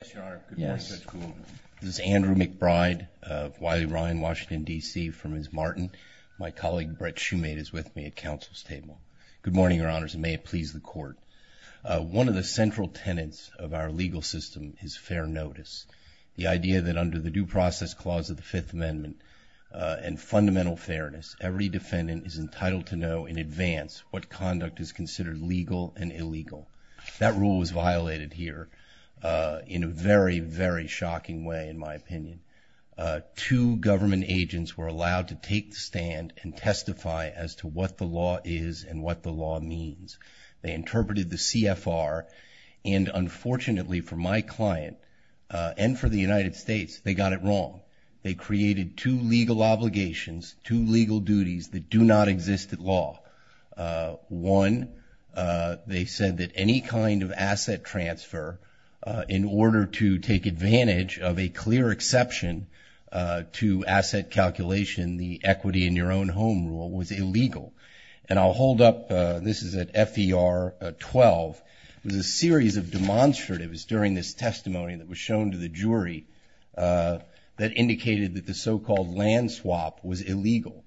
This is Andrew McBride of Wiley Ryan, Washington, D.C. from Ms. Martin. My colleague Brett Shoemate is with me at Council's table. Good morning, Your Honors, and may it please the Court. One of the central tenets of our legal system is fair notice, the idea that under the Due Process Clause of the Fifth Amendment and fundamental fairness, every defendant is entitled to know in advance what conduct is considered legal and illegal. That rule was violated here in a very, very shocking way, in my opinion. Two government agents were allowed to take the stand and testify as to what the law is and what the law means. They interpreted the CFR, and unfortunately for my client and for the United States, they got it wrong. They created two legal obligations, two legal duties that do not exist at law. One, they said that any kind of asset transfer in order to take advantage of a clear exception to asset calculation, the equity in your own home rule, was illegal. And I'll hold up, this is at FER 12, there's a series of demonstratives during this testimony that was shown to the jury that indicated that the so-called land swap was illegal.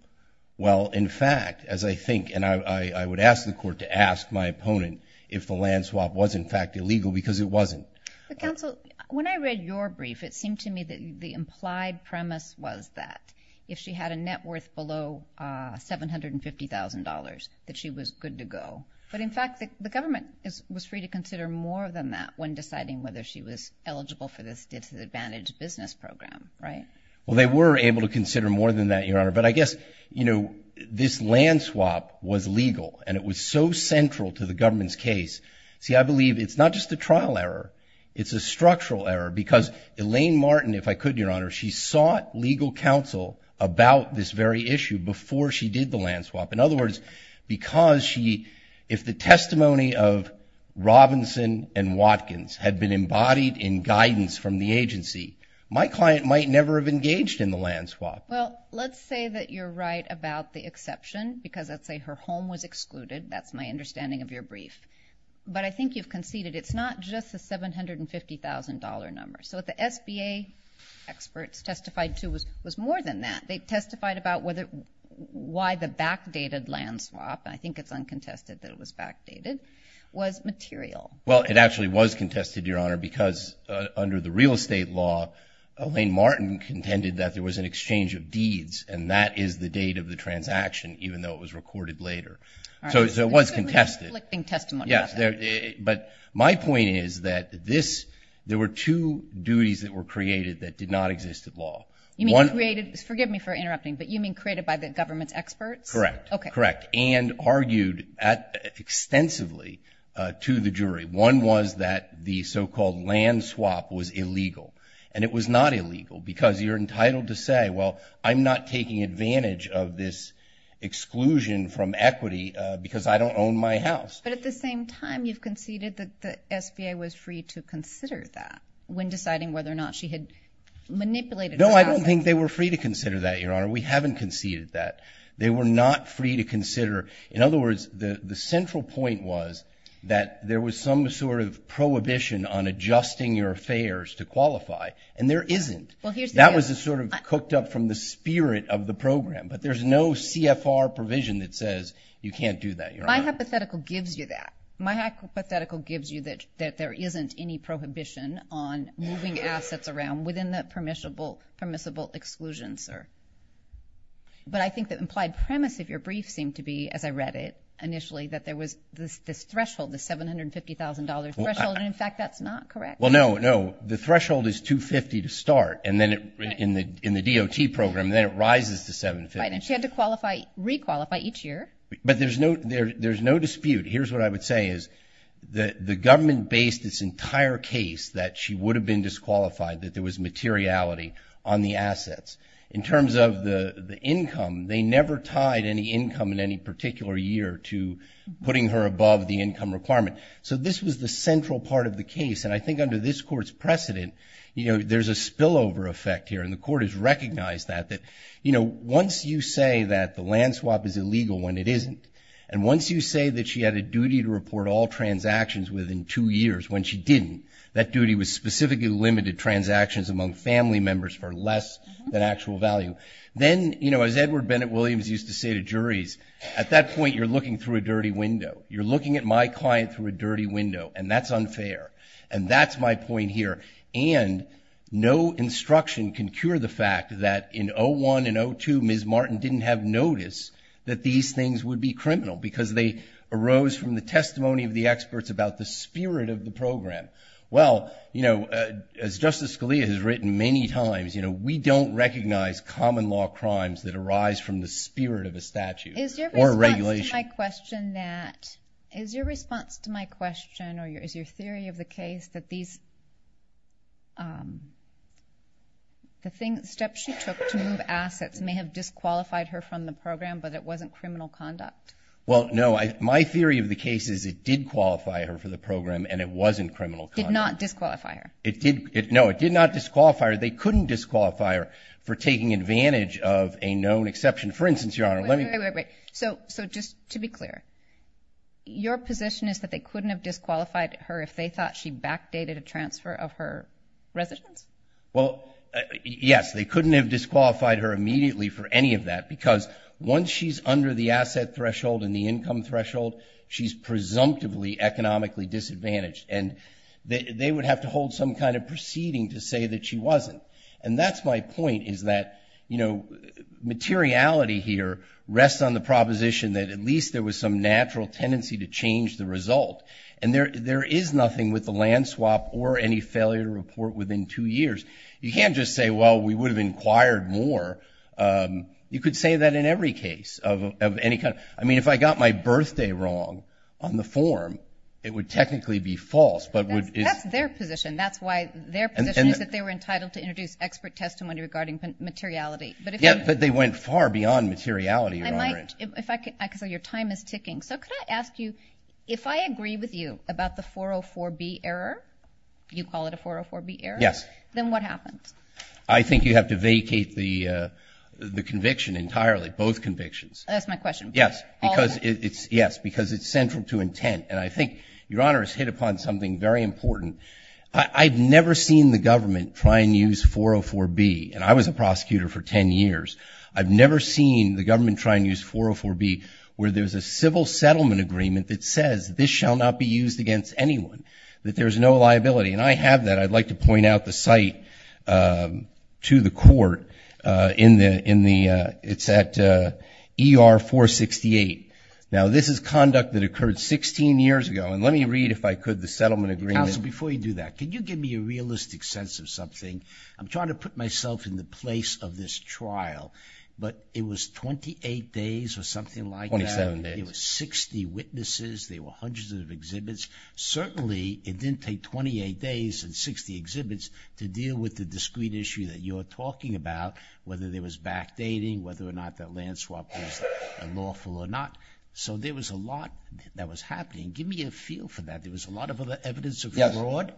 Well, in fact, as I think, and I would ask the court to ask my opponent if the land swap was in fact illegal because it wasn't. But counsel, when I read your brief, it seemed to me that the implied premise was that if she had a net worth below $750,000, that she was good to go. But in fact, the government was free to consider more than that when deciding whether she was eligible for this disadvantaged business program, right? Well, they were able to consider more than that, Your Honor. But I guess, you know, this land swap was legal and it was so central to the government's case. See, I believe it's not just a trial error. It's a structural error because Elaine Martin, if I could, Your Honor, she sought legal counsel about this very issue before she did the land swap. In other words, because she, if the testimony of Robinson and Watkins had been embodied in guidance from the agency, my client might never have engaged in the land swap. Well, let's say that you're right about the exception because let's say her home was excluded. That's my understanding of your brief. But I think you've conceded it's not just a $750,000 number. So what the SBA experts testified to was more than that. They testified about whether, why the backdated land swap, and I think it's uncontested that it was backdated, was material. Well, it actually was contested, Your Honor, because under the real estate law, Elaine Martin contended that there was an exchange of deeds and that is the date of the transaction, even though it was recorded later. So it was contested. But my point is that this, there were two duties that were created that did not exist at law. You mean created, forgive me for interrupting, but you mean created by the government's experts? Correct. Okay. Correct. And argued extensively to the jury. One was that the so-called land swap was illegal and it was not illegal because you're entitled to say, well, I'm not taking advantage of this exclusion from equity because I don't own my house. But at the same time, you've conceded that the SBA was free to consider that when deciding whether or not she had manipulated the process. No, I don't think they were free to consider that, Your Honor. We haven't conceded that. They were not free to consider. In other words, the central point was that there was some sort of prohibition on adjusting your affairs to qualify. And there isn't. That was the sort of cooked up from the spirit of the program. But there's no CFR provision that says you can't do that. My hypothetical gives you that. My hypothetical gives you that there isn't any prohibition on moving assets around within the permissible exclusion, sir. But I think that implied premise of your brief seemed to be, as I read it initially, that there was this threshold, the $750,000 threshold. And in fact, that's not correct. Well, no, no. The threshold is $250,000 to start. And then in the DOT program, then it rises to $750,000. She had to re-qualify each year. But there's no dispute. Here's what I would say is that the government based this entire case that she would have been disqualified, that there was materiality on the assets. In terms of the income, they never tied any income in any particular year to putting her above the income requirement. So this was the central part of the case. And I think under this Court's precedent, there's a spillover effect here. And the Court has recognized that. Once you say that the land swap is illegal when it isn't, and once you say that she had a duty to report all transactions within two years when she didn't, that duty was specifically limited transactions among family members for less than actual value, then, you know, as Edward Bennett Williams used to say to juries, at that point, you're looking through a dirty window. You're looking at my client through a dirty window. And that's unfair. And that's my point here. And no instruction can cure the fact that in 01 and 02, Ms. Martin didn't have notice that these things would be criminal because they arose from the testimony of the experts about the spirit of the program. Well, you know, as Justice Scalia has written many times, you know, we don't recognize common law crimes that arise from the spirit of a statute or a regulation. Is your response to my question that, is your response to my question or is your theory of the case that these, the steps she took to move assets may have disqualified her from the program, but it wasn't criminal conduct? Well, no, I, my theory of the case is it did qualify her for the program and it wasn't criminal conduct. Did not disqualify her. It did. No, it did not disqualify her. They couldn't disqualify her for taking advantage of a known exception. For instance, Your Honor, let me... Wait, wait, wait, wait. So, so just to be clear, your position is that they couldn't have disqualified her if they thought she backdated a transfer of her residence? Well, yes, they couldn't have disqualified her immediately for any of that because once she's under the asset threshold and the income threshold, she's presumptively economically disadvantaged and they would have to hold some kind of proceeding to say that she wasn't. And that's my point is that, you know, materiality here rests on the proposition that at least there was some natural tendency to change the result. And there, there is nothing with the land swap or any failure to report within two years. You can't just say, well, we would have inquired more. You could say that in every case of, of any kind. I mean, if I got my birthday wrong on the form, it would technically be false, but would... That's their position. That's why their position is that they were entitled to introduce expert testimony regarding materiality. Yeah, but they went far beyond materiality, Your Honor. I might, if I could, I could say, your time is ticking. So could I ask you, if I agree with you about the 404B error, you call it a 404B error, then what happened? I think you have to vacate the, uh, the conviction entirely, both convictions. That's my question. Yes, because it's, yes, because it's central to intent. And I think Your Honor has hit upon something very important. I, I've never seen the government try and use 404B, and I was a prosecutor for 10 years. I've never seen the government try and use 404B where there's a civil settlement agreement that says this shall not be used against anyone, that there's no liability. And I have that. I'd like to point out the site, um, to the court, uh, in the, in the, uh, it's at, uh, ER 468. Now this is conduct that occurred 16 years ago. And let me read, if I could, the settlement agreement. Counsel, before you do that, can you give me a realistic sense of something? I'm trying to put myself in the place of this trial, but it was 28 days or something like that. 27 days. There were 60 witnesses. There were hundreds of exhibits. Certainly it didn't take 28 days and 60 exhibits to deal with the discrete issue that you're talking about, whether there was backdating, whether or not that land swap was unlawful or not. So there was a lot that was happening. Give me a feel for that. There was a lot of other evidence of fraud.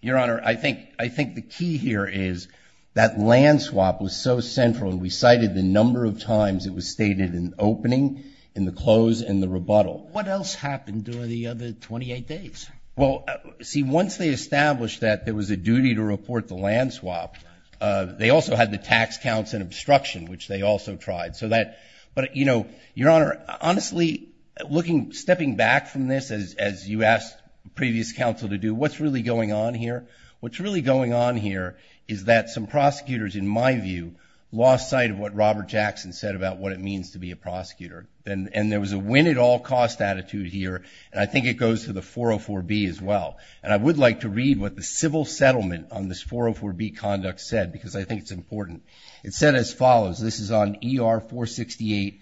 Your Honor, I think, I think the key here is that land swap was so central and we cited the number of times it was stated in opening, in the close, and the rebuttal. What else happened during the other 28 days? Well, see, once they established that there was a duty to report the land swap, uh, they also had the tax counts and obstruction, which they also tried. So that, but you know, Your Honor, honestly looking, stepping back from this as, as you asked previous counsel to do, what's really going on here? What's really going on here is that some prosecutors, in my view, lost sight of what Robert Jackson said about what it means to be a prosecutor. And there was a win-at-all-cost attitude here. And I think it goes to the 404B as well. And I would like to read what the civil settlement on this 404B conduct said, because I think it's important. It said as follows. This is on ER 468,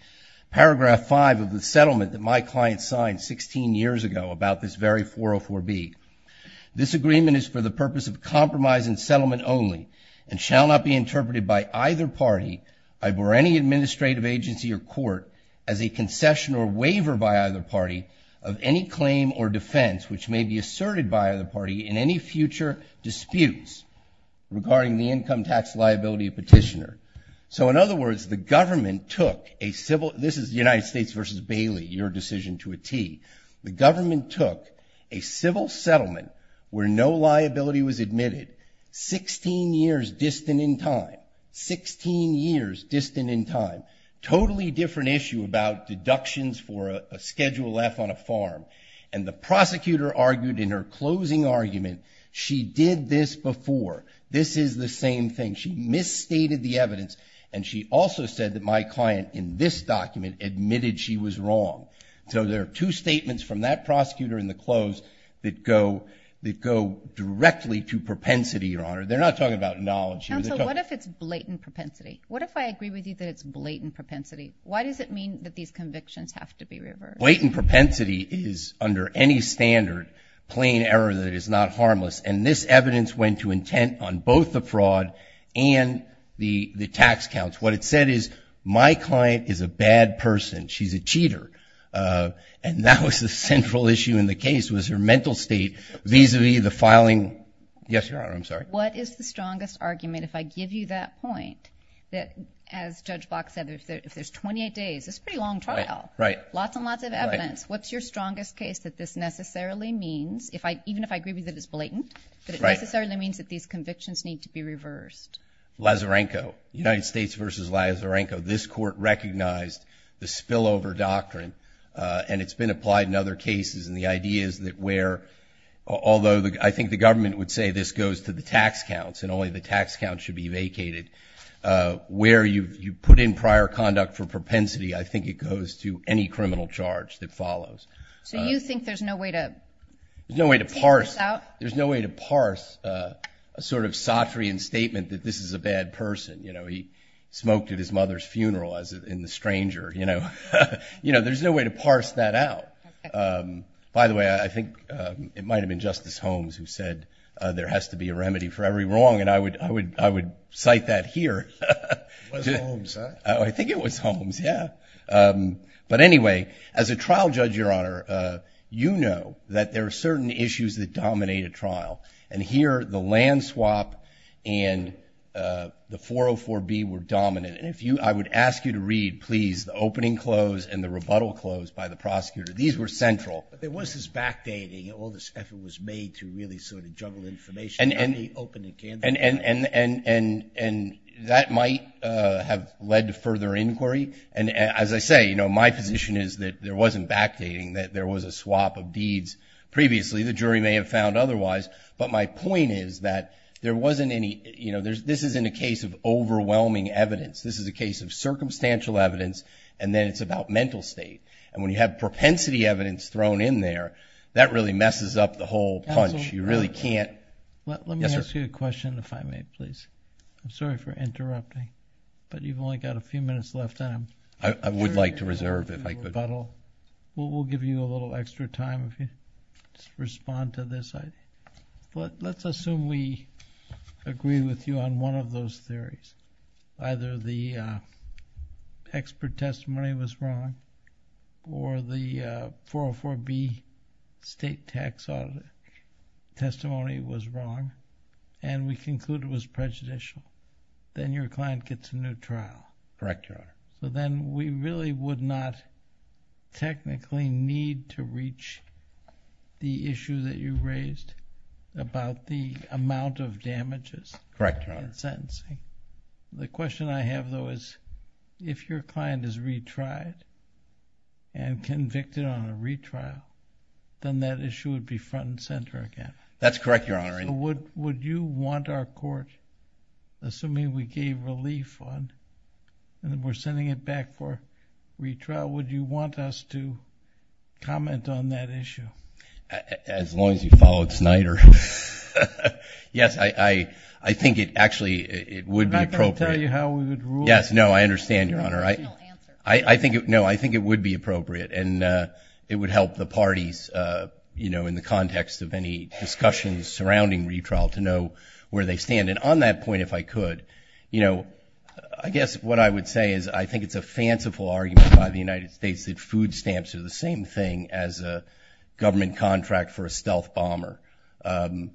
paragraph five of the settlement that my client signed 16 years ago about this very 404B. This agreement is for the purpose of compromise and settlement only, and shall not be interpreted by either party, either any administrative agency or court, as a concession or waiver by either party of any claim or defense which may be asserted by either party in any future disputes regarding the income tax liability of petitioner. So in other words, the government took a civil, this is United States v. Bailey, your decision to a T. The government took a civil settlement where no liability was admitted 16 years distant in time. 16 years distant in time. Totally different issue about deductions for a Schedule F on a farm. And the prosecutor argued in her closing argument, she did this before. This is the same thing. She misstated the evidence. And she also said that my client in this document admitted she was wrong. So there are two statements from that prosecutor in the close that go, that go directly to propensity, Your Honor. They're not talking about knowledge here. And so what if it's blatant propensity? What if I agree with you that it's blatant propensity? Why does it mean that these convictions have to be reversed? Blatant propensity is under any standard plain error that is not harmless. And this evidence went to intent on both the fraud and the, the tax counts. What it said is my client is a bad person. She's a cheater. And that was the central issue in the case was her mental state vis-a-vis the filing. Yes, Your Honor, I'm sorry. What is the strongest argument, if I give you that point, that as Judge Block said, if there's 28 days, it's a pretty long trial. Lots and lots of evidence. What's your strongest case that this necessarily means, even if I agree with you that it's blatant, that it necessarily means that these convictions need to be reversed? Lazarenko. United States v. Lazarenko. This court recognized the spillover doctrine, and it's been applied in other cases. And the idea is that where, although I think the government would say this goes to the tax counts and only the tax counts should be vacated, where you put in prior conduct for propensity, I think it goes to any criminal charge that follows. So you think there's no way to take this out? There's no way to parse a sort of Sartrean statement that this is a bad person. He smoked at his mother's funeral in The Stranger. There's no way to parse that out. By the way, I think it might have been Justice Holmes who said there has to be a remedy for every wrong, and I would cite that here. It was Holmes, huh? Oh, I think it was Holmes, yeah. But anyway, as a trial judge, Your Honor, you know that there are certain issues that dominate a trial. And here, the land swap and the 404B were dominant. And if you, I would ask you to read, please, the opening close and the rebuttal close by the prosecutor. These were central. But there was this backdating. All this effort was made to really sort of juggle information on the opening candidate. And that might have led to further inquiry. And as I say, you know, my position is that there wasn't backdating, that there was a swap of deeds previously. The jury may have found otherwise. But my point is that there wasn't any, you know, this isn't a case of overwhelming evidence. This is a case of circumstantial evidence, and then it's about mental state. And when you have propensity evidence thrown in there, that really messes up the whole punch. You really can't... Let me ask you a question, if I may, please. I'm sorry for interrupting, but you've only got a few minutes left, and I'm sure you're going to want to read the rebuttal. We'll give you a little extra time if you respond to this. But let's assume we agree with you on one of those theories. Either the expert testimony was wrong, or the 404B state tax audit testimony was wrong, and we conclude it was prejudicial. Then your client gets a new trial. Correct, Your Honor. So then we really would not technically need to reach the issue that you raised about the amount of damages in sentencing. Correct, Your Honor. The question I have, though, is if your client is retried and convicted on a retrial, then that issue would be front and center again. That's correct, Your Honor. So would you want our court, assuming we gave relief on, and we're sending it back for retrial, would you want us to comment on that issue? As long as you followed Snyder. Yes, I think it actually would be appropriate. I'm not going to tell you how we would rule it. Yes, no, I understand, Your Honor. No, there's no answer. No, I think it would be appropriate, and it would help the parties in the context of any discussions surrounding retrial to know where they stand. And on that point, if I could, I guess what I would say is I think it's a fanciful argument by the United States that food stamps are the same thing as a government contract for a stealth bomber. The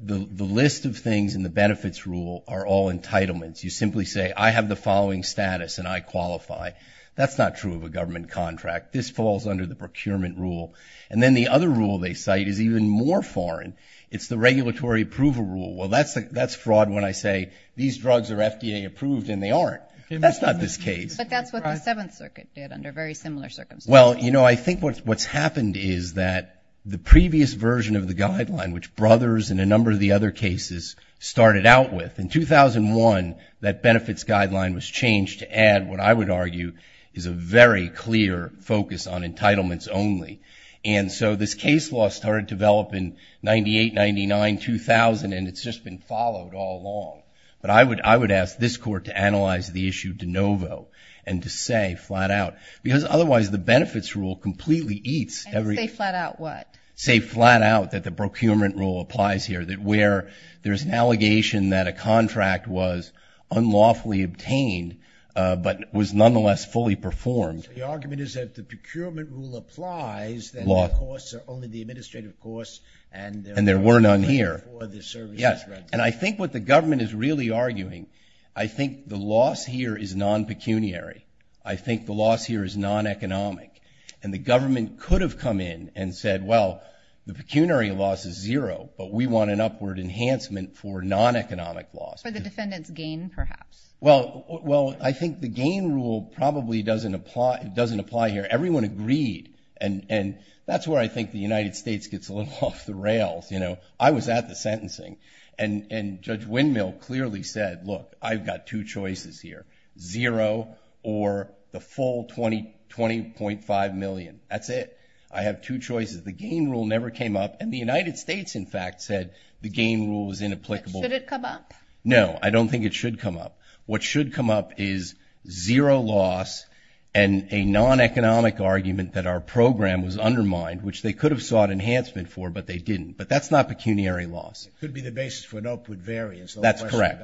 list of things in the benefits rule are all entitlements. You simply say, I have the following status and I qualify. That's not true of a government contract. This falls under the procurement rule. And then the other rule they cite is even more foreign. It's the regulatory approval rule. Well, that's fraud when I say these drugs are FDA approved and they aren't. That's not this case. But that's what the Seventh Circuit did under very similar circumstances. Well, you know, I think what's happened is that the previous version of the guideline, which Brothers and a number of the other cases started out with, in 2001, that benefits guideline was changed to add what I would argue is a very clear focus on entitlements only. And so this case law started to develop in 98, 99, 2000, and it's just been followed all along. But I would ask this court to analyze the issue de novo and to say flat out. Because otherwise the benefits rule completely eats every- And say flat out what? Say flat out that the procurement rule applies here, that where there's an allegation that a contract was unlawfully obtained, but was nonetheless fully performed. The argument is that if the procurement rule applies, then the costs are only the administrative costs, and there were none here. And I think what the government is really arguing, I think the loss here is non-pecuniary. I think the loss here is non-economic. And the government could have come in and said, well, the pecuniary loss is zero, but we want an upward enhancement for non-economic loss. For the defendant's gain, perhaps. Well, I think the gain rule probably doesn't apply here. Everyone agreed. And that's where I think the United States gets a little off the rails. I was at the sentencing, and Judge Windmill clearly said, look, I've got two choices here, zero or the full 20.5 million. That's it. I have two choices. The gain rule never came up, and the United States, in fact, said the gain rule was inapplicable. But should it come up? No, I don't think it should come up. What should come up is zero loss and a non-economic argument that our program was undermined, which they could have sought enhancement for, but they didn't. But that's not pecuniary loss. It could be the basis for an upward variance. That's correct.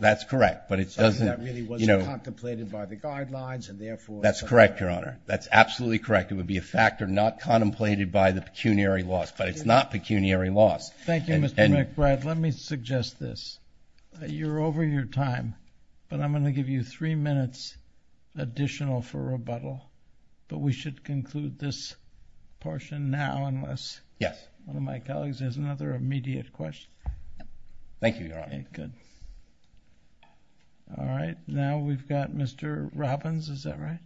That's correct. But it doesn't, you know. That really wasn't contemplated by the guidelines, and therefore. That's correct, Your Honor. That's absolutely correct. It would be a factor not contemplated by the pecuniary laws, but it's not pecuniary loss. Thank you, Mr. McBride. Let me suggest this. You're over your time, but I'm going to give you three minutes additional for rebuttal, but we should conclude this portion now unless one of my colleagues has another immediate question. Thank you, Your Honor. Good. All right. Now we've got Mr. Robbins. Is that right?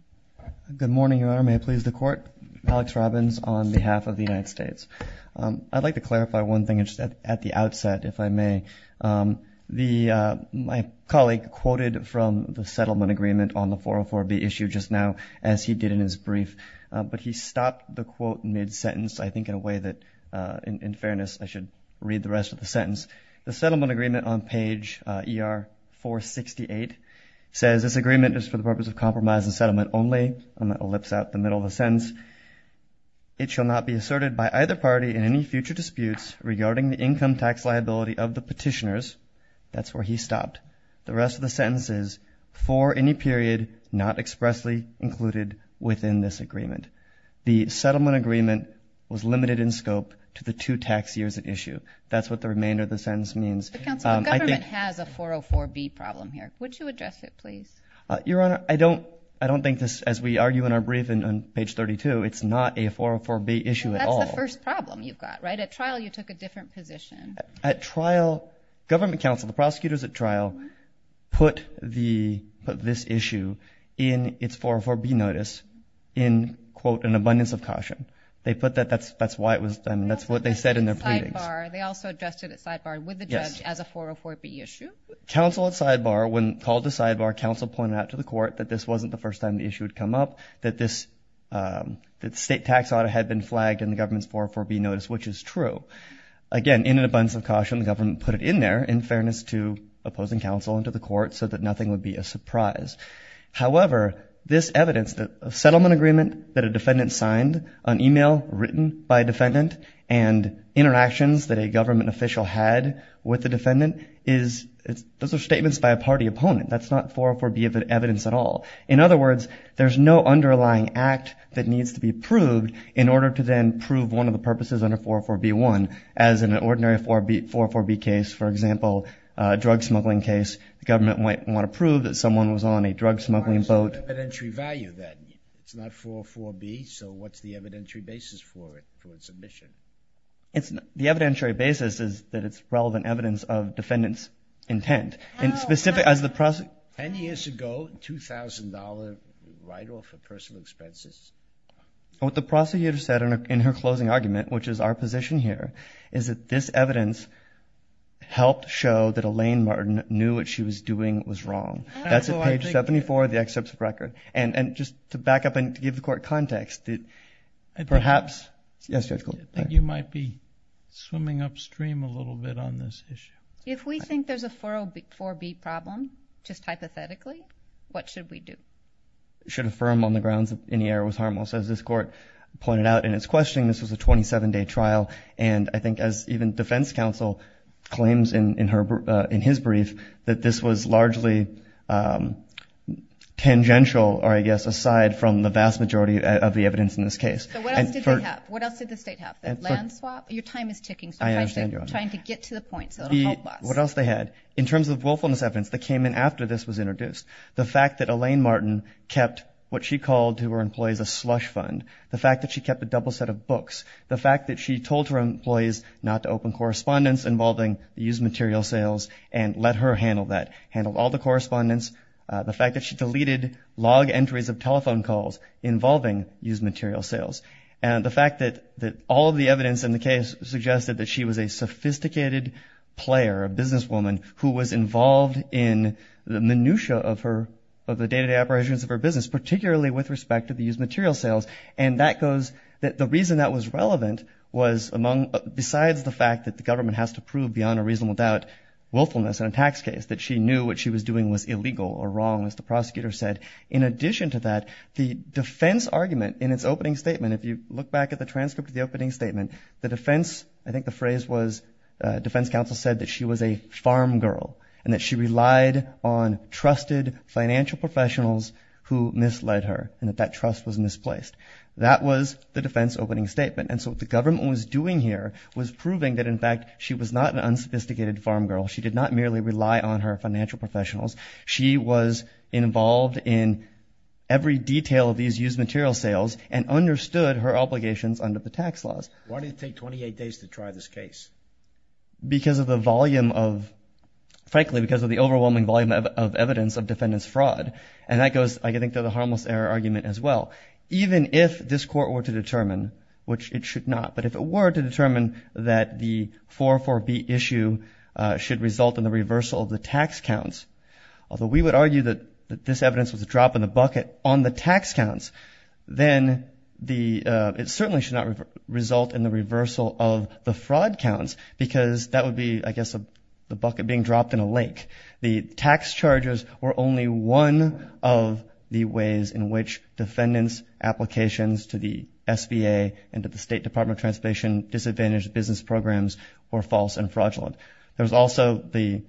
Good morning, Your Honor. May it please the Court? I'm Alex Robbins on behalf of the United States. I'd like to clarify one thing at the outset, if I may. My colleague quoted from the settlement agreement on the 404B issue just now, as he did in his brief, but he stopped the quote mid-sentence, I think in a way that, in fairness, I should read the rest of the sentence. The settlement agreement on page ER 468 says, this agreement is for the purpose of compromise and settlement only. I'm going to ellipse out the middle of the sentence. It shall not be asserted by either party in any future disputes regarding the income tax liability of the petitioners. That's where he stopped. The rest of the sentence is, for any period not expressly included within this agreement. The settlement agreement was limited in scope to the two tax years at issue. That's what the remainder of the sentence means. But, counsel, the government has a 404B problem here. Would you address it, please? Your Honor, I don't think this, as we argue in our brief on page 32, it's not a 404B issue at all. That's the first problem you've got, right? At trial, you took a different position. At trial, government counsel, the prosecutors at trial, put this issue in its 404B notice in quote, an abundance of caution. They put that, that's why it was, that's what they said in their pleadings. They also addressed it at sidebar with the judge as a 404B issue. Counsel at sidebar, when called to sidebar, counsel pointed out to the court that this wasn't the first time the issue had come up, that this, that state tax audit had been flagged in the government's 404B notice, which is true. Again, in an abundance of caution, the government put it in there in fairness to opposing counsel and to the court so that nothing would be a surprise. However, this evidence, the settlement agreement that a defendant signed, an email written by a defendant and interactions that a government official had with the defendant is, those are statements by a party opponent. That's not 404B evidence at all. In other words, there's no underlying act that needs to be approved in order to then prove one of the purposes under 404B1 as in an ordinary 404B case, for example, a drug smuggling case, the government might want to prove that someone was on a drug smuggling boat. What's the evidentiary value then? It's not 404B, so what's the evidentiary basis for it, for its omission? The evidentiary basis is that it's relevant evidence of defendant's intent and specific as the prosecutor. Ten years ago, $2,000 right off of personal expenses. What the prosecutor said in her closing argument, which is our position here, is that this evidence helped show that Elaine Martin knew what she was doing was wrong. That's at page 74 of the excerpt's record. And just to back up and to give the court context, perhaps, yes, Judge Goldberg. I think you might be swimming upstream a little bit on this issue. If we think there's a 404B problem, just hypothetically, what should we do? Should affirm on the grounds that any error was harmless. As this court pointed out in its questioning, this was a 27-day trial, and I think as even the defense counsel claims in his brief, that this was largely tangential, or I guess aside from the vast majority of the evidence in this case. So what else did they have? What else did the state have? The land swap? Your time is ticking, so try to get to the point so it'll help us. What else they had? In terms of willfulness evidence that came in after this was introduced. The fact that Elaine Martin kept what she called to her employees a slush fund. The fact that she kept a double set of books. The fact that she told her employees not to open correspondence involving the used material sales and let her handle that, handle all the correspondence. The fact that she deleted log entries of telephone calls involving used material sales. And the fact that all of the evidence in the case suggested that she was a sophisticated player, a businesswoman, who was involved in the minutia of her, of the day-to-day operations of her business, particularly with respect to the used material sales. And that goes, the reason that was relevant was among, besides the fact that the government has to prove beyond a reasonable doubt willfulness in a tax case, that she knew what she was doing was illegal or wrong, as the prosecutor said. In addition to that, the defense argument in its opening statement, if you look back at the transcript of the opening statement, the defense, I think the phrase was, defense counsel said that she was a farm girl and that she relied on trusted financial professionals who misled her and that that trust was misplaced. That was the defense opening statement. And so what the government was doing here was proving that, in fact, she was not an unsophisticated farm girl. She did not merely rely on her financial professionals. She was involved in every detail of these used material sales and understood her obligations under the tax laws. Why did it take 28 days to try this case? Because of the volume of, frankly, because of the overwhelming volume of evidence of defendant's fraud. And that goes, I think, to the harmless error argument as well. Even if this court were to determine, which it should not, but if it were to determine that the 404B issue should result in the reversal of the tax counts, although we would argue that this evidence was a drop in the bucket on the tax counts, then it certainly should not result in the reversal of the fraud counts because that would be, I guess, the bucket being dropped in a lake. The tax charges were only one of the ways in which defendant's applications to the SBA and to the State Department of Transportation Disadvantaged Business Programs were false and fraudulent. There was also the,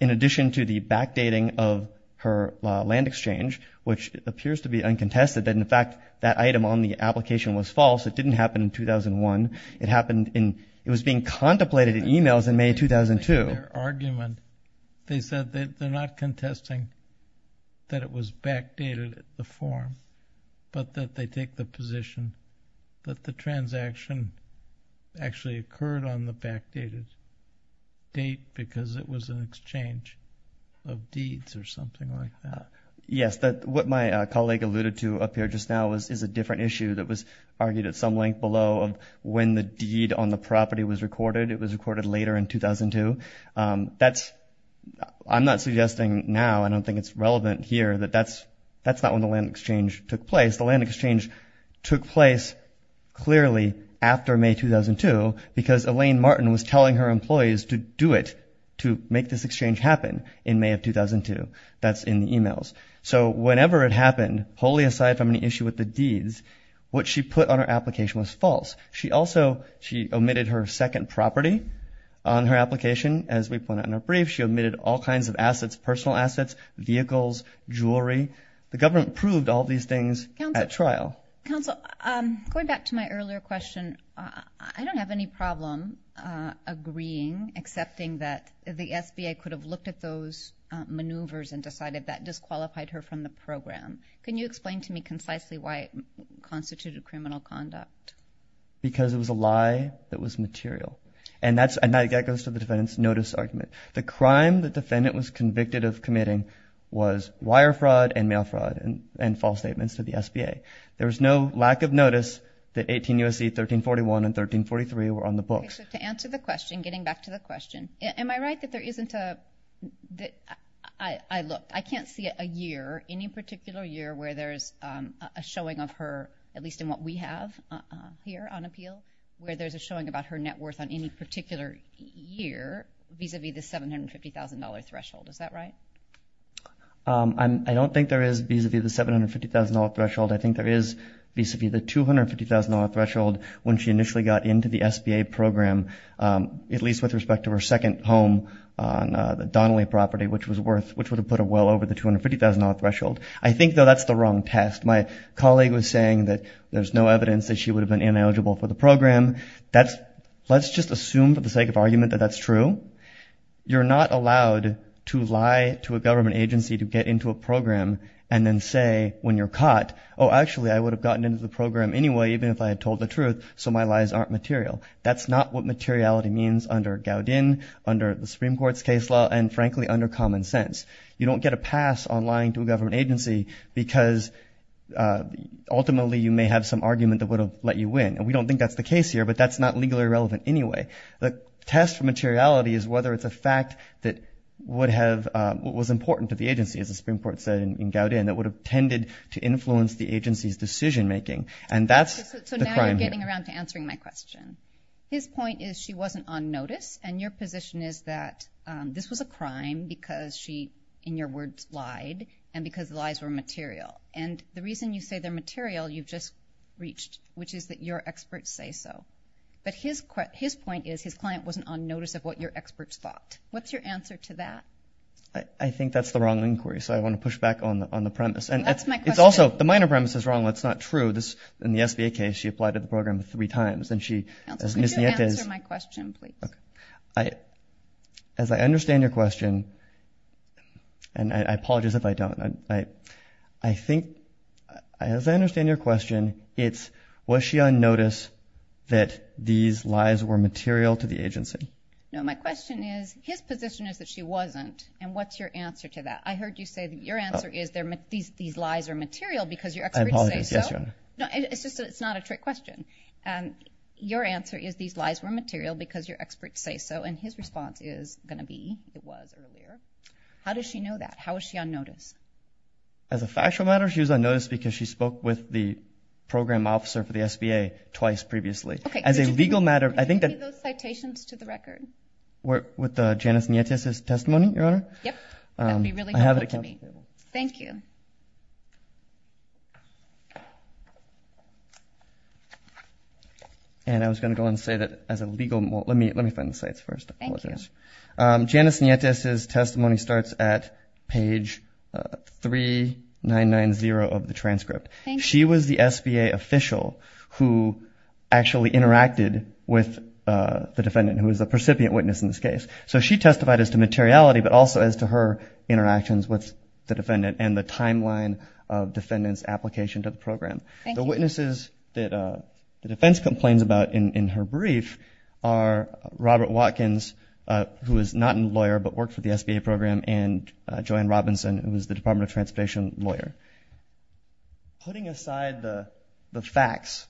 in addition to the backdating of her land exchange, which appears to be uncontested, that, in fact, that item on the application was false. It didn't happen in 2001. It happened in, it was being contemplated in emails in May 2002. In their argument, they said that they're not contesting that it was backdated at the form, but that they take the position that the transaction actually occurred on the backdated date because it was an exchange of deeds or something like that. Yes, what my colleague alluded to up here just now is a different issue that was argued at some length below of when the deed on the property was recorded. It was recorded later in 2002. That's, I'm not suggesting now, I don't think it's relevant here, that that's not when the land exchange took place. The land exchange took place clearly after May 2002 because Elaine Martin was telling her employees to do it, to make this exchange happen in May of 2002. That's in the emails. So whenever it happened, wholly aside from an issue with the deeds, what she put on her application was false. She also, she omitted her second property on her application, as we pointed out in our brief. She omitted all kinds of assets, personal assets, vehicles, jewelry. The government proved all these things at trial. Counsel, going back to my earlier question, I don't have any problem agreeing, accepting that the SBA could have looked at those maneuvers and decided that disqualified her from the program. Can you explain to me concisely why it constituted criminal conduct? Because it was a lie that was material. And that goes to the defendant's notice argument. The crime the defendant was convicted of committing was wire fraud and mail fraud and false statements to the SBA. There was no lack of notice that 18 U.S.C. 1341 and 1343 were on the books. To answer the question, getting back to the question, am I right that there isn't a, that I looked? I mean, I can't see a year, any particular year where there's a showing of her, at least in what we have here on appeal, where there's a showing about her net worth on any particular year, vis-a-vis the $750,000 threshold, is that right? I don't think there is vis-a-vis the $750,000 threshold. I think there is vis-a-vis the $250,000 threshold when she initially got into the SBA program, at least with respect to her second home on the Donnelly property, which was worth, which would have put her well over the $250,000 threshold. I think, though, that's the wrong test. My colleague was saying that there's no evidence that she would have been ineligible for the program. That's, let's just assume for the sake of argument that that's true. You're not allowed to lie to a government agency to get into a program and then say when you're caught, oh, actually, I would have gotten into the program anyway, even if I had told the truth, so my lies aren't material. That's not what materiality means under Gowdin, under the Supreme Court's case law, and frankly, under common sense. You don't get a pass on lying to a government agency because ultimately, you may have some argument that would have let you win, and we don't think that's the case here, but that's not legally relevant anyway. The test for materiality is whether it's a fact that would have, what was important to the agency, as the Supreme Court said in Gowdin, that would have tended to influence the agency's decision making, and that's the crime here. So now you're getting around to answering my question. His point is she wasn't on notice, and your position is that this was a crime because she, in your words, lied, and because the lies were material, and the reason you say they're material, you've just reached, which is that your experts say so, but his point is his client wasn't on notice of what your experts thought. What's your answer to that? I think that's the wrong inquiry, so I want to push back on the premise, and it's also, the minor premise is wrong. That's not true. This, in the SBA case, she applied to the program three times, and she, as Ms. Nietzsche Counsel, could you answer my question, please? As I understand your question, and I apologize if I don't, I think, as I understand your question, it's, was she on notice that these lies were material to the agency? No, my question is, his position is that she wasn't, and what's your answer to that? I heard you say that your answer is these lies are material because your experts say so. Yes, Your Honor. No, it's just that it's not a trick question. Your answer is these lies were material because your experts say so, and his response is going to be, it was earlier. How does she know that? How is she on notice? As a factual matter, she was on notice because she spoke with the program officer for the SBA twice previously. As a legal matter, I think that... Okay, could you give me those citations to the record? With Janice Nietzsche's testimony, Your Honor? Yep. That would be really helpful to me. I have it accounted for. Thank you. And I was going to go ahead and say that as a legal... well, let me find the cites first. Thank you. Janice Nietzsche's testimony starts at page 3990 of the transcript. She was the SBA official who actually interacted with the defendant, who was the precipient witness in this case. So she testified as to materiality, but also as to her interactions with the defendant and the timeline of defendant's application to the program. The witnesses that the defense complains about in her brief are Robert Watkins, who is not a lawyer but worked for the SBA program, and Joanne Robinson, who is the Department of Transportation lawyer. Putting aside the facts,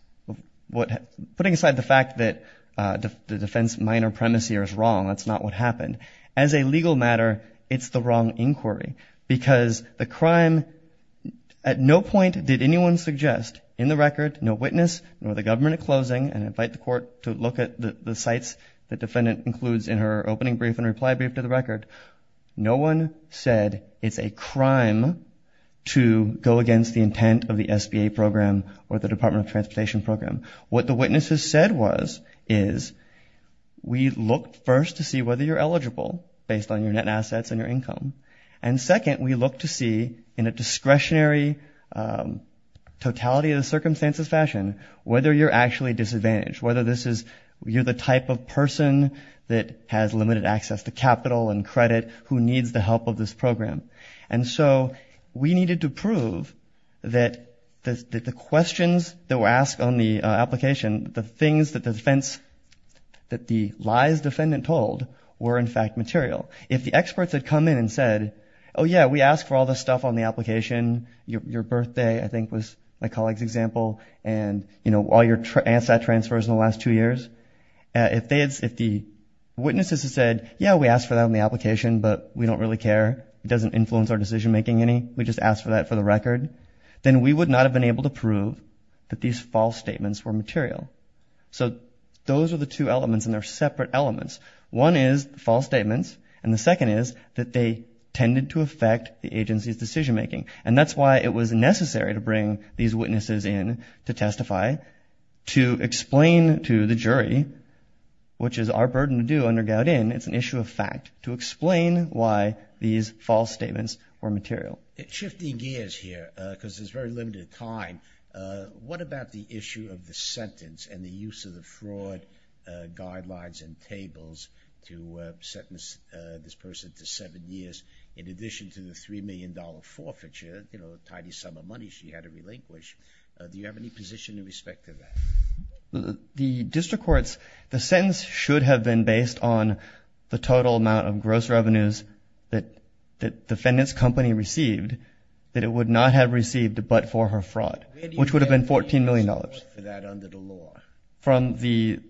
putting aside the fact that the defense minor premise here is wrong, that's not what happened, as a legal matter, it's the wrong inquiry. Because the crime... at no point did anyone suggest, in the record, no witness, nor the government at closing, and I invite the court to look at the cites the defendant includes in her opening brief and reply brief to the record, no one said it's a crime to go against the intent of the SBA program or the Department of Transportation program. What the witnesses said was, is, we looked first to see whether you're eligible based on your net assets and your income. And second, we looked to see, in a discretionary, totality of the circumstances fashion, whether you're actually disadvantaged, whether this is... you're the type of person that has limited access to capital and credit who needs the help of this program. And so we needed to prove that the questions that were asked on the application, the things that the defense... that the lies defendant told were, in fact, material. If the experts had come in and said, oh yeah, we asked for all the stuff on the application, your birthday, I think, was my colleague's example, and, you know, all your asset transfers in the last two years. If they had... if the witnesses had said, yeah, we asked for that on the application, but we don't really care, it doesn't influence our decision making any, we just asked for that for the record, then we would not have been able to prove that these false statements were material. So those are the two elements, and they're separate elements. One is false statements, and the second is that they tended to affect the agency's decision making. And that's why it was necessary to bring these witnesses in to testify, to explain to the jury, which is our burden to do under Gowdin, it's an issue of fact, to explain why these false statements were material. Shifting gears here, because there's very limited time, what about the issue of the sentence and the use of the fraud guidelines and tables to sentence this person to seven years, in addition to the $3 million forfeiture, you know, a tiny sum of money she had to relinquish? Do you have any position in respect to that? The district courts, the sentence should have been based on the total amount of gross revenues that the defendant's company received, that it would not have received but for her fraud, which would have been $14 million. Where do you have a place for that under the law? From the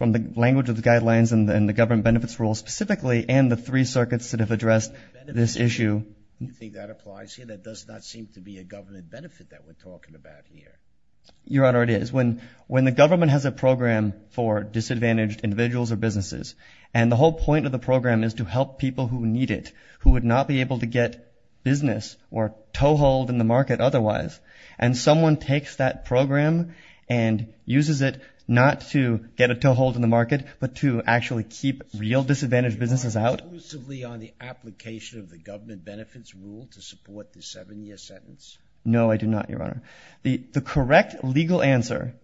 language of the guidelines and the government benefits rules specifically, and the three circuits that have addressed this issue. Do you think that applies here? That does not seem to be a government benefit that we're talking about here. Your Honor, it is. When the government has a program for disadvantaged individuals or businesses, and the whole point of the program is to help people who need it, who would not be able to get business or toehold in the market otherwise, and someone takes that program and uses it not to get a toehold in the market, but to actually keep real disadvantaged businesses out? So you are exclusively on the application of the government benefits rule to support the seven-year sentence? No, I do not, Your Honor. The correct legal answer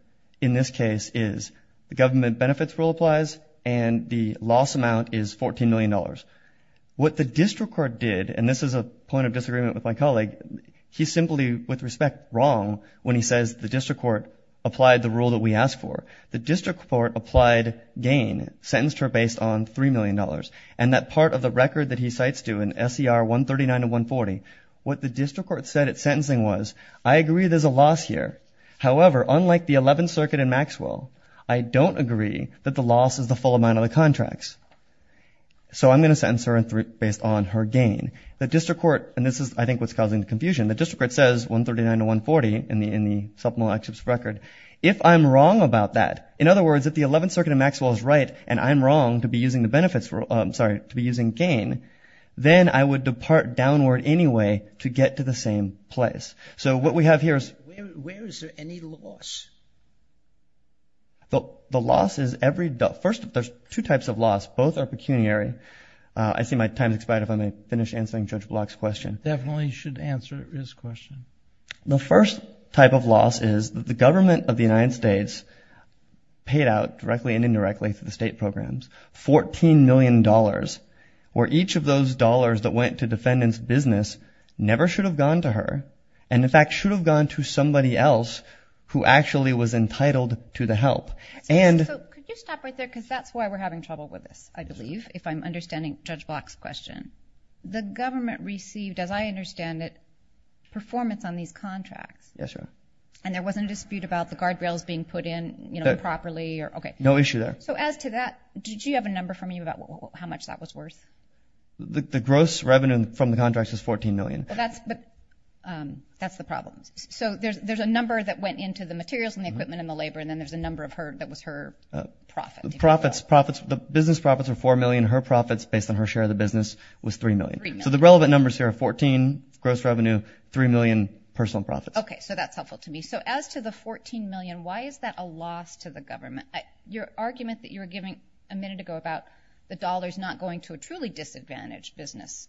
in this case is the government benefits rule applies, and the loss amount is $14 million. What the district court did, and this is a point of disagreement with my colleague, he's simply, with respect, wrong when he says the district court applied the rule that we asked for. The district court applied gain, sentenced her based on $3 million, and that part of the record that he cites, too, in SCR 139 and 140, what the district court said at sentencing was, I agree there's a loss here. However, unlike the 11th Circuit in Maxwell, I don't agree that the loss is the full amount of the contracts. So I'm going to sentence her based on her gain. The district court, and this is, I think, what's causing the confusion, the district court says 139 and 140 in the supplemental excepts record. If I'm wrong about that, in other words, if the 11th Circuit in Maxwell is right, and I'm wrong to be using the benefits rule, sorry, to be using gain, then I would depart downward anyway to get to the same place. So what we have here is... Where is there any loss? The loss is every... First, there's two types of loss. Both are pecuniary. I see my time has expired, if I may finish answering Judge Block's question. Definitely should answer his question. The first type of loss is that the government of the United States paid out, directly and indirectly, through the state programs, $14 million, where each of those dollars that went to defendant's business never should have gone to her, and in fact should have gone to somebody else who actually was entitled to the help. So could you stop right there, because that's why we're having trouble with this, I believe, if I'm understanding Judge Block's question. The government received, as I understand it, performance on these contracts, and there wasn't a dispute about the guardrails being put in, you know, properly or... No issue there. So as to that, did you have a number from you about how much that was worth? The gross revenue from the contracts is $14 million. Well, that's... that's the problem. So there's a number that went into the materials and the equipment and the labor, and then there's a number of her... that was her profit, if you will. Profits. Profits. The business profits were $4 million. Her profits, based on her share of the business, was $3 million. So the relevant numbers here are $14, gross revenue, $3 million, personal profits. Okay. So that's helpful to me. So as to the $14 million, why is that a loss to the government? Your argument that you were giving a minute ago about the dollars not going to a truly disadvantaged business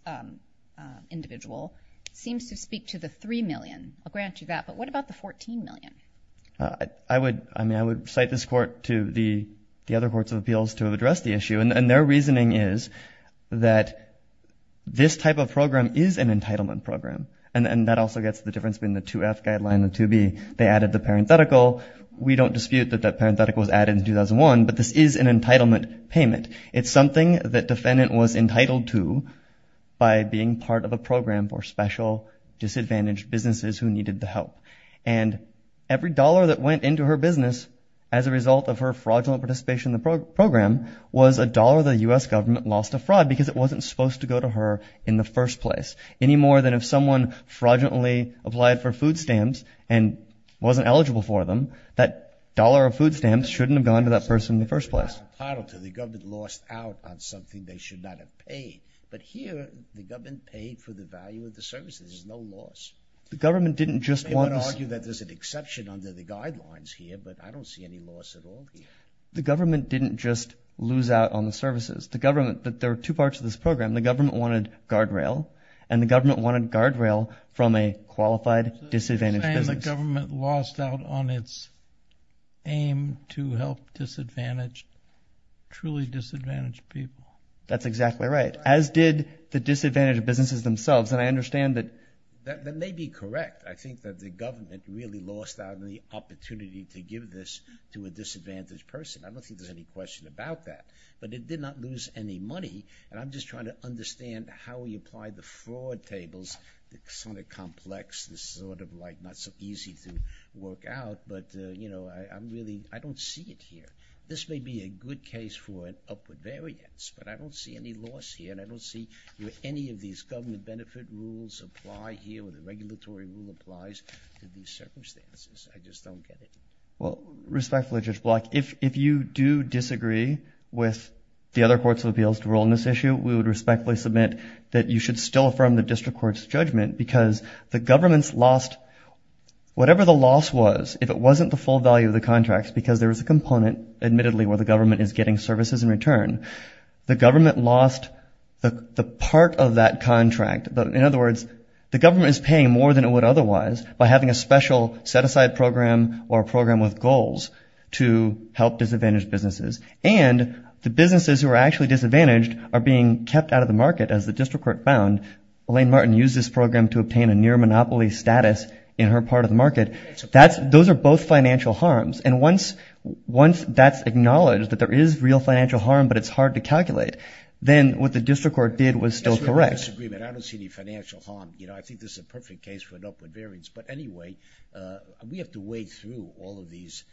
individual seems to speak to the $3 million. I'll grant you that, but what about the $14 million? I would... I mean, I would cite this Court to the other courts of appeals to have addressed the issue, and their reasoning is that this type of program is an entitlement program. And that also gets to the difference between the 2F guideline and the 2B. They added the parenthetical. We don't dispute that that parenthetical was added in 2001, but this is an entitlement payment. It's something that defendant was entitled to by being part of a program for special disadvantaged businesses who needed the help. And every dollar that went into her business as a result of her fraudulent participation in the program was a dollar the U.S. government lost to fraud because it wasn't supposed to go to her in the first place. Any more than if someone fraudulently applied for food stamps and wasn't eligible for them, that dollar of food stamps shouldn't have gone to that person in the first place. That's a part of it. The government lost out on something they should not have paid. But here, the government paid for the value of the services, there's no loss. The government didn't just want... You may want to argue that there's an exception under the guidelines here, but I don't see any loss at all here. The government didn't just lose out on the services. The government... there are 2 parts to this program. The government wanted guardrail, and the government wanted guardrail from a qualified disadvantaged business. The government lost out on its aim to help disadvantaged, truly disadvantaged people. That's exactly right. As did the disadvantaged businesses themselves, and I understand that... That may be correct. I think that the government really lost out on the opportunity to give this to a disadvantaged person. I don't think there's any question about that. But it did not lose any money, and I'm just trying to understand how you apply the fraud tables. It's kind of complex. It's sort of like not so easy to work out, but, you know, I'm really... I don't see it here. This may be a good case for an upward variance, but I don't see any loss here, and I don't see where any of these government benefit rules apply here, or the regulatory rule applies to these circumstances. I just don't get it. Well, respectfully, Judge Block, if you do disagree with the other courts of appeals to rule on this issue, we would respectfully submit that you should still affirm the District Court's judgment, because the government's lost... Whatever the loss was, if it wasn't the full value of the contracts, because there was a component, admittedly, where the government is getting services in return, the government lost the part of that contract. In other words, the government is paying more than it would otherwise by having a special set-aside program or a program with goals to help disadvantaged businesses. And the businesses who are actually disadvantaged are being kept out of the market, as the District Court, and use this program to obtain a near-monopoly status in her part of the market. Those are both financial harms. And once that's acknowledged, that there is real financial harm, but it's hard to calculate, then what the District Court did was still correct. It's a real disagreement. I don't see any financial harm. You know, I think this is a perfect case for an upward variance. But anyway, we have to wade through all of these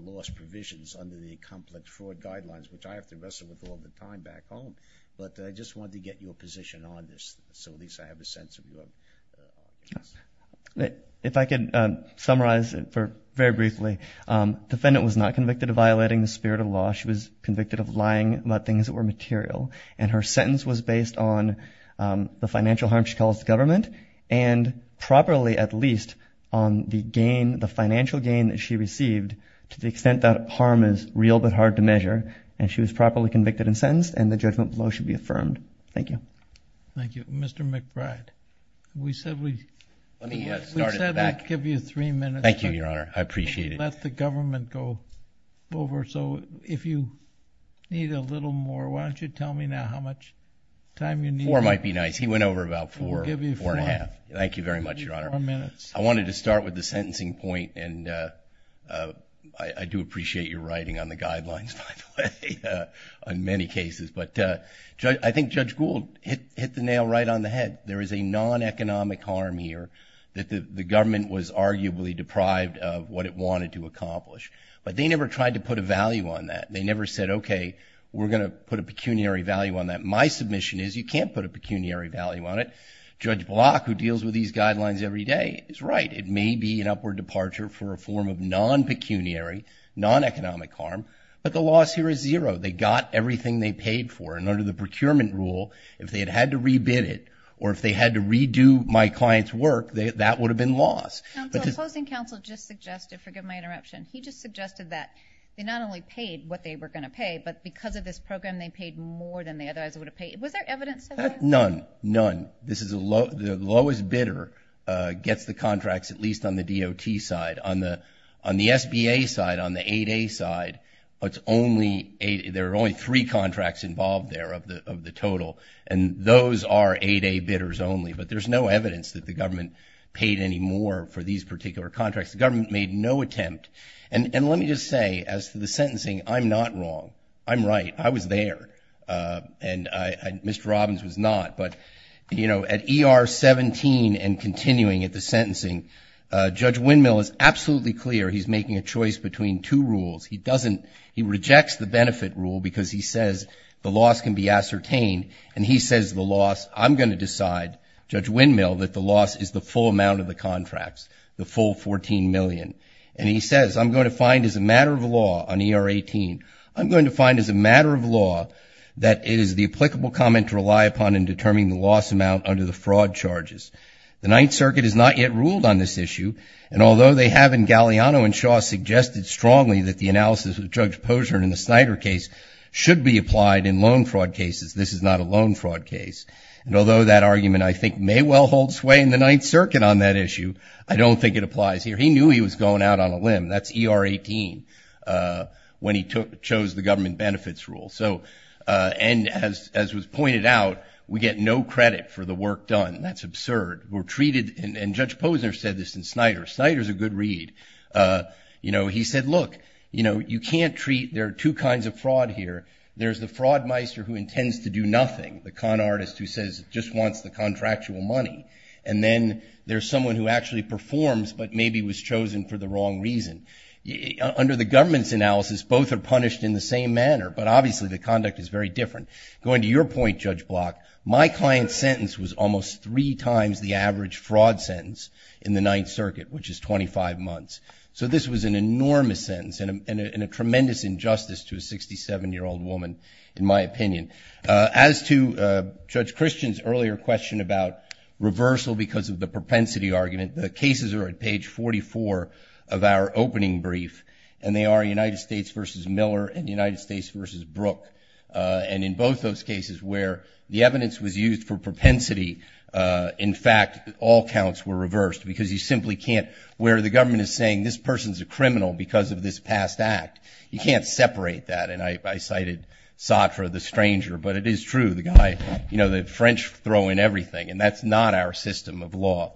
loss provisions under the Complex Fraud Guidelines, which I have to wrestle with all the time back home, but I just wanted to get your position on this. So at least I have a sense of what... If I could summarize it very briefly, defendant was not convicted of violating the spirit of law. She was convicted of lying about things that were material. And her sentence was based on the financial harm she caused the government, and properly, at least, on the gain, the financial gain that she received, to the extent that harm is real but hard to measure, and she was properly convicted and sentenced, and the judgment below should be affirmed. Thank you. Thank you. Mr. McBride, we said we'd give you three minutes. Thank you, Your Honor. I appreciate it. Let the government go over. So if you need a little more, why don't you tell me now how much time you need? Four might be nice. He went over about four. We'll give you four. Four and a half. Thank you very much, Your Honor. Four minutes. I wanted to start with the sentencing point. And I do appreciate your writing on the guidelines, by the way, on many cases. But I think Judge Gould hit the nail right on the head. There is a non-economic harm here that the government was arguably deprived of what it wanted to accomplish. But they never tried to put a value on that. They never said, okay, we're going to put a pecuniary value on that. My submission is you can't put a pecuniary value on it. Judge Block, who deals with these guidelines every day, is right. It may be an upward departure for a form of non-pecuniary, non-economic harm, but the loss here is zero. They got everything they paid for. And under the procurement rule, if they had had to re-bid it, or if they had to redo my client's work, that would have been loss. Counsel, the opposing counsel just suggested, forgive my interruption, he just suggested that they not only paid what they were going to pay, but because of this program they paid more than they otherwise would have paid. Was there evidence of that? None. None. This is the lowest bidder gets the contracts, at least on the DOT side. On the SBA side, on the 8A side, there are only three contracts involved there of the total. And those are 8A bidders only. But there's no evidence that the government paid any more for these particular contracts. The government made no attempt. And let me just say, as to the sentencing, I'm not wrong. I'm right. I was there. And Mr. Robbins was not. But, you know, at ER 17 and continuing at the sentencing, Judge Windmill is absolutely clear he's making a choice between two rules. He doesn't, he rejects the benefit rule because he says the loss can be ascertained. And he says the loss, I'm going to decide, Judge Windmill, that the loss is the full amount of the contracts, the full $14 million. And he says, I'm going to find as a matter of law, on ER 18, I'm going to find as a matter of law that it is the applicable comment to rely upon in determining the loss amount under the fraud charges. The Ninth Circuit has not yet ruled on this issue. And although they have in Galliano and Shaw suggested strongly that the analysis of Judge Posner in the Snyder case should be applied in loan fraud cases, this is not a loan fraud case. And although that argument, I think, may well hold sway in the Ninth Circuit on that issue, I don't think it applies here. He knew he was going out on a limb. That's ER 18 when he chose the government benefits rule. So and as was pointed out, we get no credit for the work done. That's absurd. We're treated, and Judge Posner said this in Snyder, Snyder's a good read. You know, he said, look, you know, you can't treat, there are two kinds of fraud here. There's the fraud meister who intends to do nothing, the con artist who says, just wants the contractual money. And then there's someone who actually performs, but maybe was chosen for the wrong reason. Under the government's analysis, both are punished in the same manner, but obviously the conduct is very different. Going to your point, Judge Block, my client's sentence was almost three times the average fraud sentence in the Ninth Circuit, which is 25 months. So this was an enormous sentence and a tremendous injustice to a 67-year-old woman, in my opinion. As to Judge Christian's earlier question about reversal because of the propensity argument, the cases are at page 44 of our opening brief, and they are United States v. Miller and United States v. Brooke. And in both those cases where the evidence was used for propensity, in fact, all counts were reversed because you simply can't, where the government is saying this person's a criminal because of this past act, you can't separate that. And I cited Sartre, the stranger, but it is true, the guy, you know, the French throw in everything, and that's not our system of law.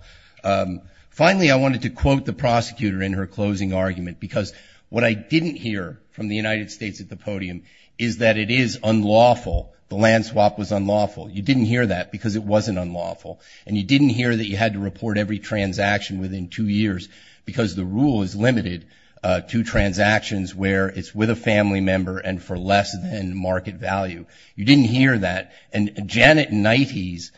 Finally, I wanted to quote the prosecutor in her closing argument because what I didn't hear from the United States at the podium is that it is unlawful, the land swap was unlawful. You didn't hear that because it wasn't unlawful. And you didn't hear that you had to report every transaction within two years because the rule is limited to transactions where it's with a family member and for less than market value. You didn't hear that. And Janet Knighties,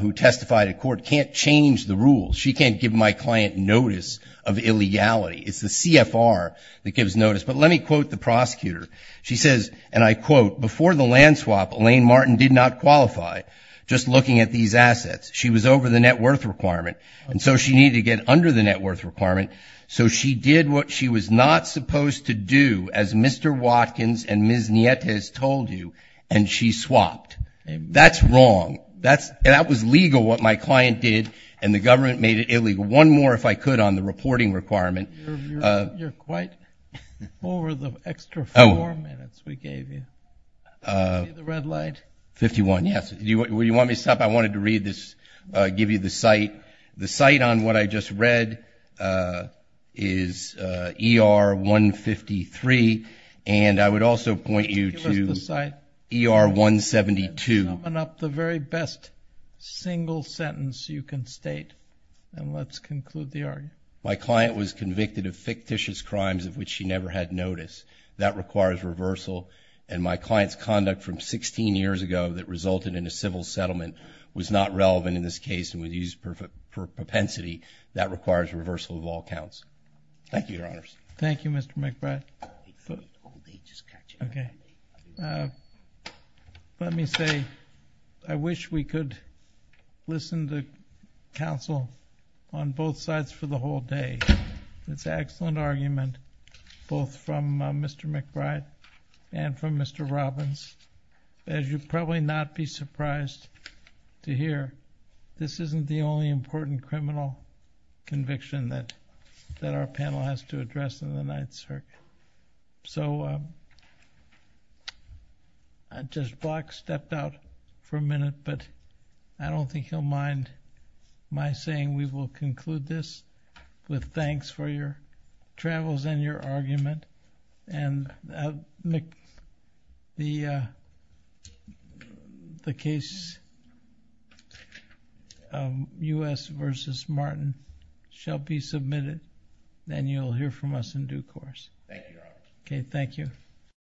who testified at court, can't change the rules. She can't give my client notice of illegality. It's the CFR that gives notice. But let me quote the prosecutor. She says, and I quote, before the land swap, Elaine Martin did not qualify, just looking at these assets. She was over the net worth requirement. And so she needed to get under the net worth requirement. So she did what she was not supposed to do, as Mr. Watkins and Ms. Knighties told you, and she swapped. That's wrong. That was legal, what my client did, and the government made it illegal. One more, if I could, on the reporting requirement. You're quite over the extra four minutes we gave you. See the red light? 51, yes. Do you want me to stop? I wanted to read this, give you the cite. The cite on what I just read is ER 153. And I would also point you to ER 172. My client was convicted of fictitious crimes of which she never had notice. That requires reversal. And my client's conduct from 16 years ago that resulted in a civil settlement was not relevant in this case and was used for propensity. That requires reversal of all counts. Thank you, Your Honors. Thank you, Mr. McBride. Let me say, I wish we could listen to counsel on both sides for the whole day. It's an excellent argument, both from Mr. McBride and from Mr. Robbins. As you'd probably not be surprised to hear, this isn't the only important criminal conviction that our panel has to address in the Ninth Circuit. So I just block-stepped out for a minute, but I don't think he'll mind my saying we will conclude this with thanks for your travels and your argument. And the case U.S. v. Martin shall be submitted, and you'll hear from us in due course. Thank you, Your Honor. Okay.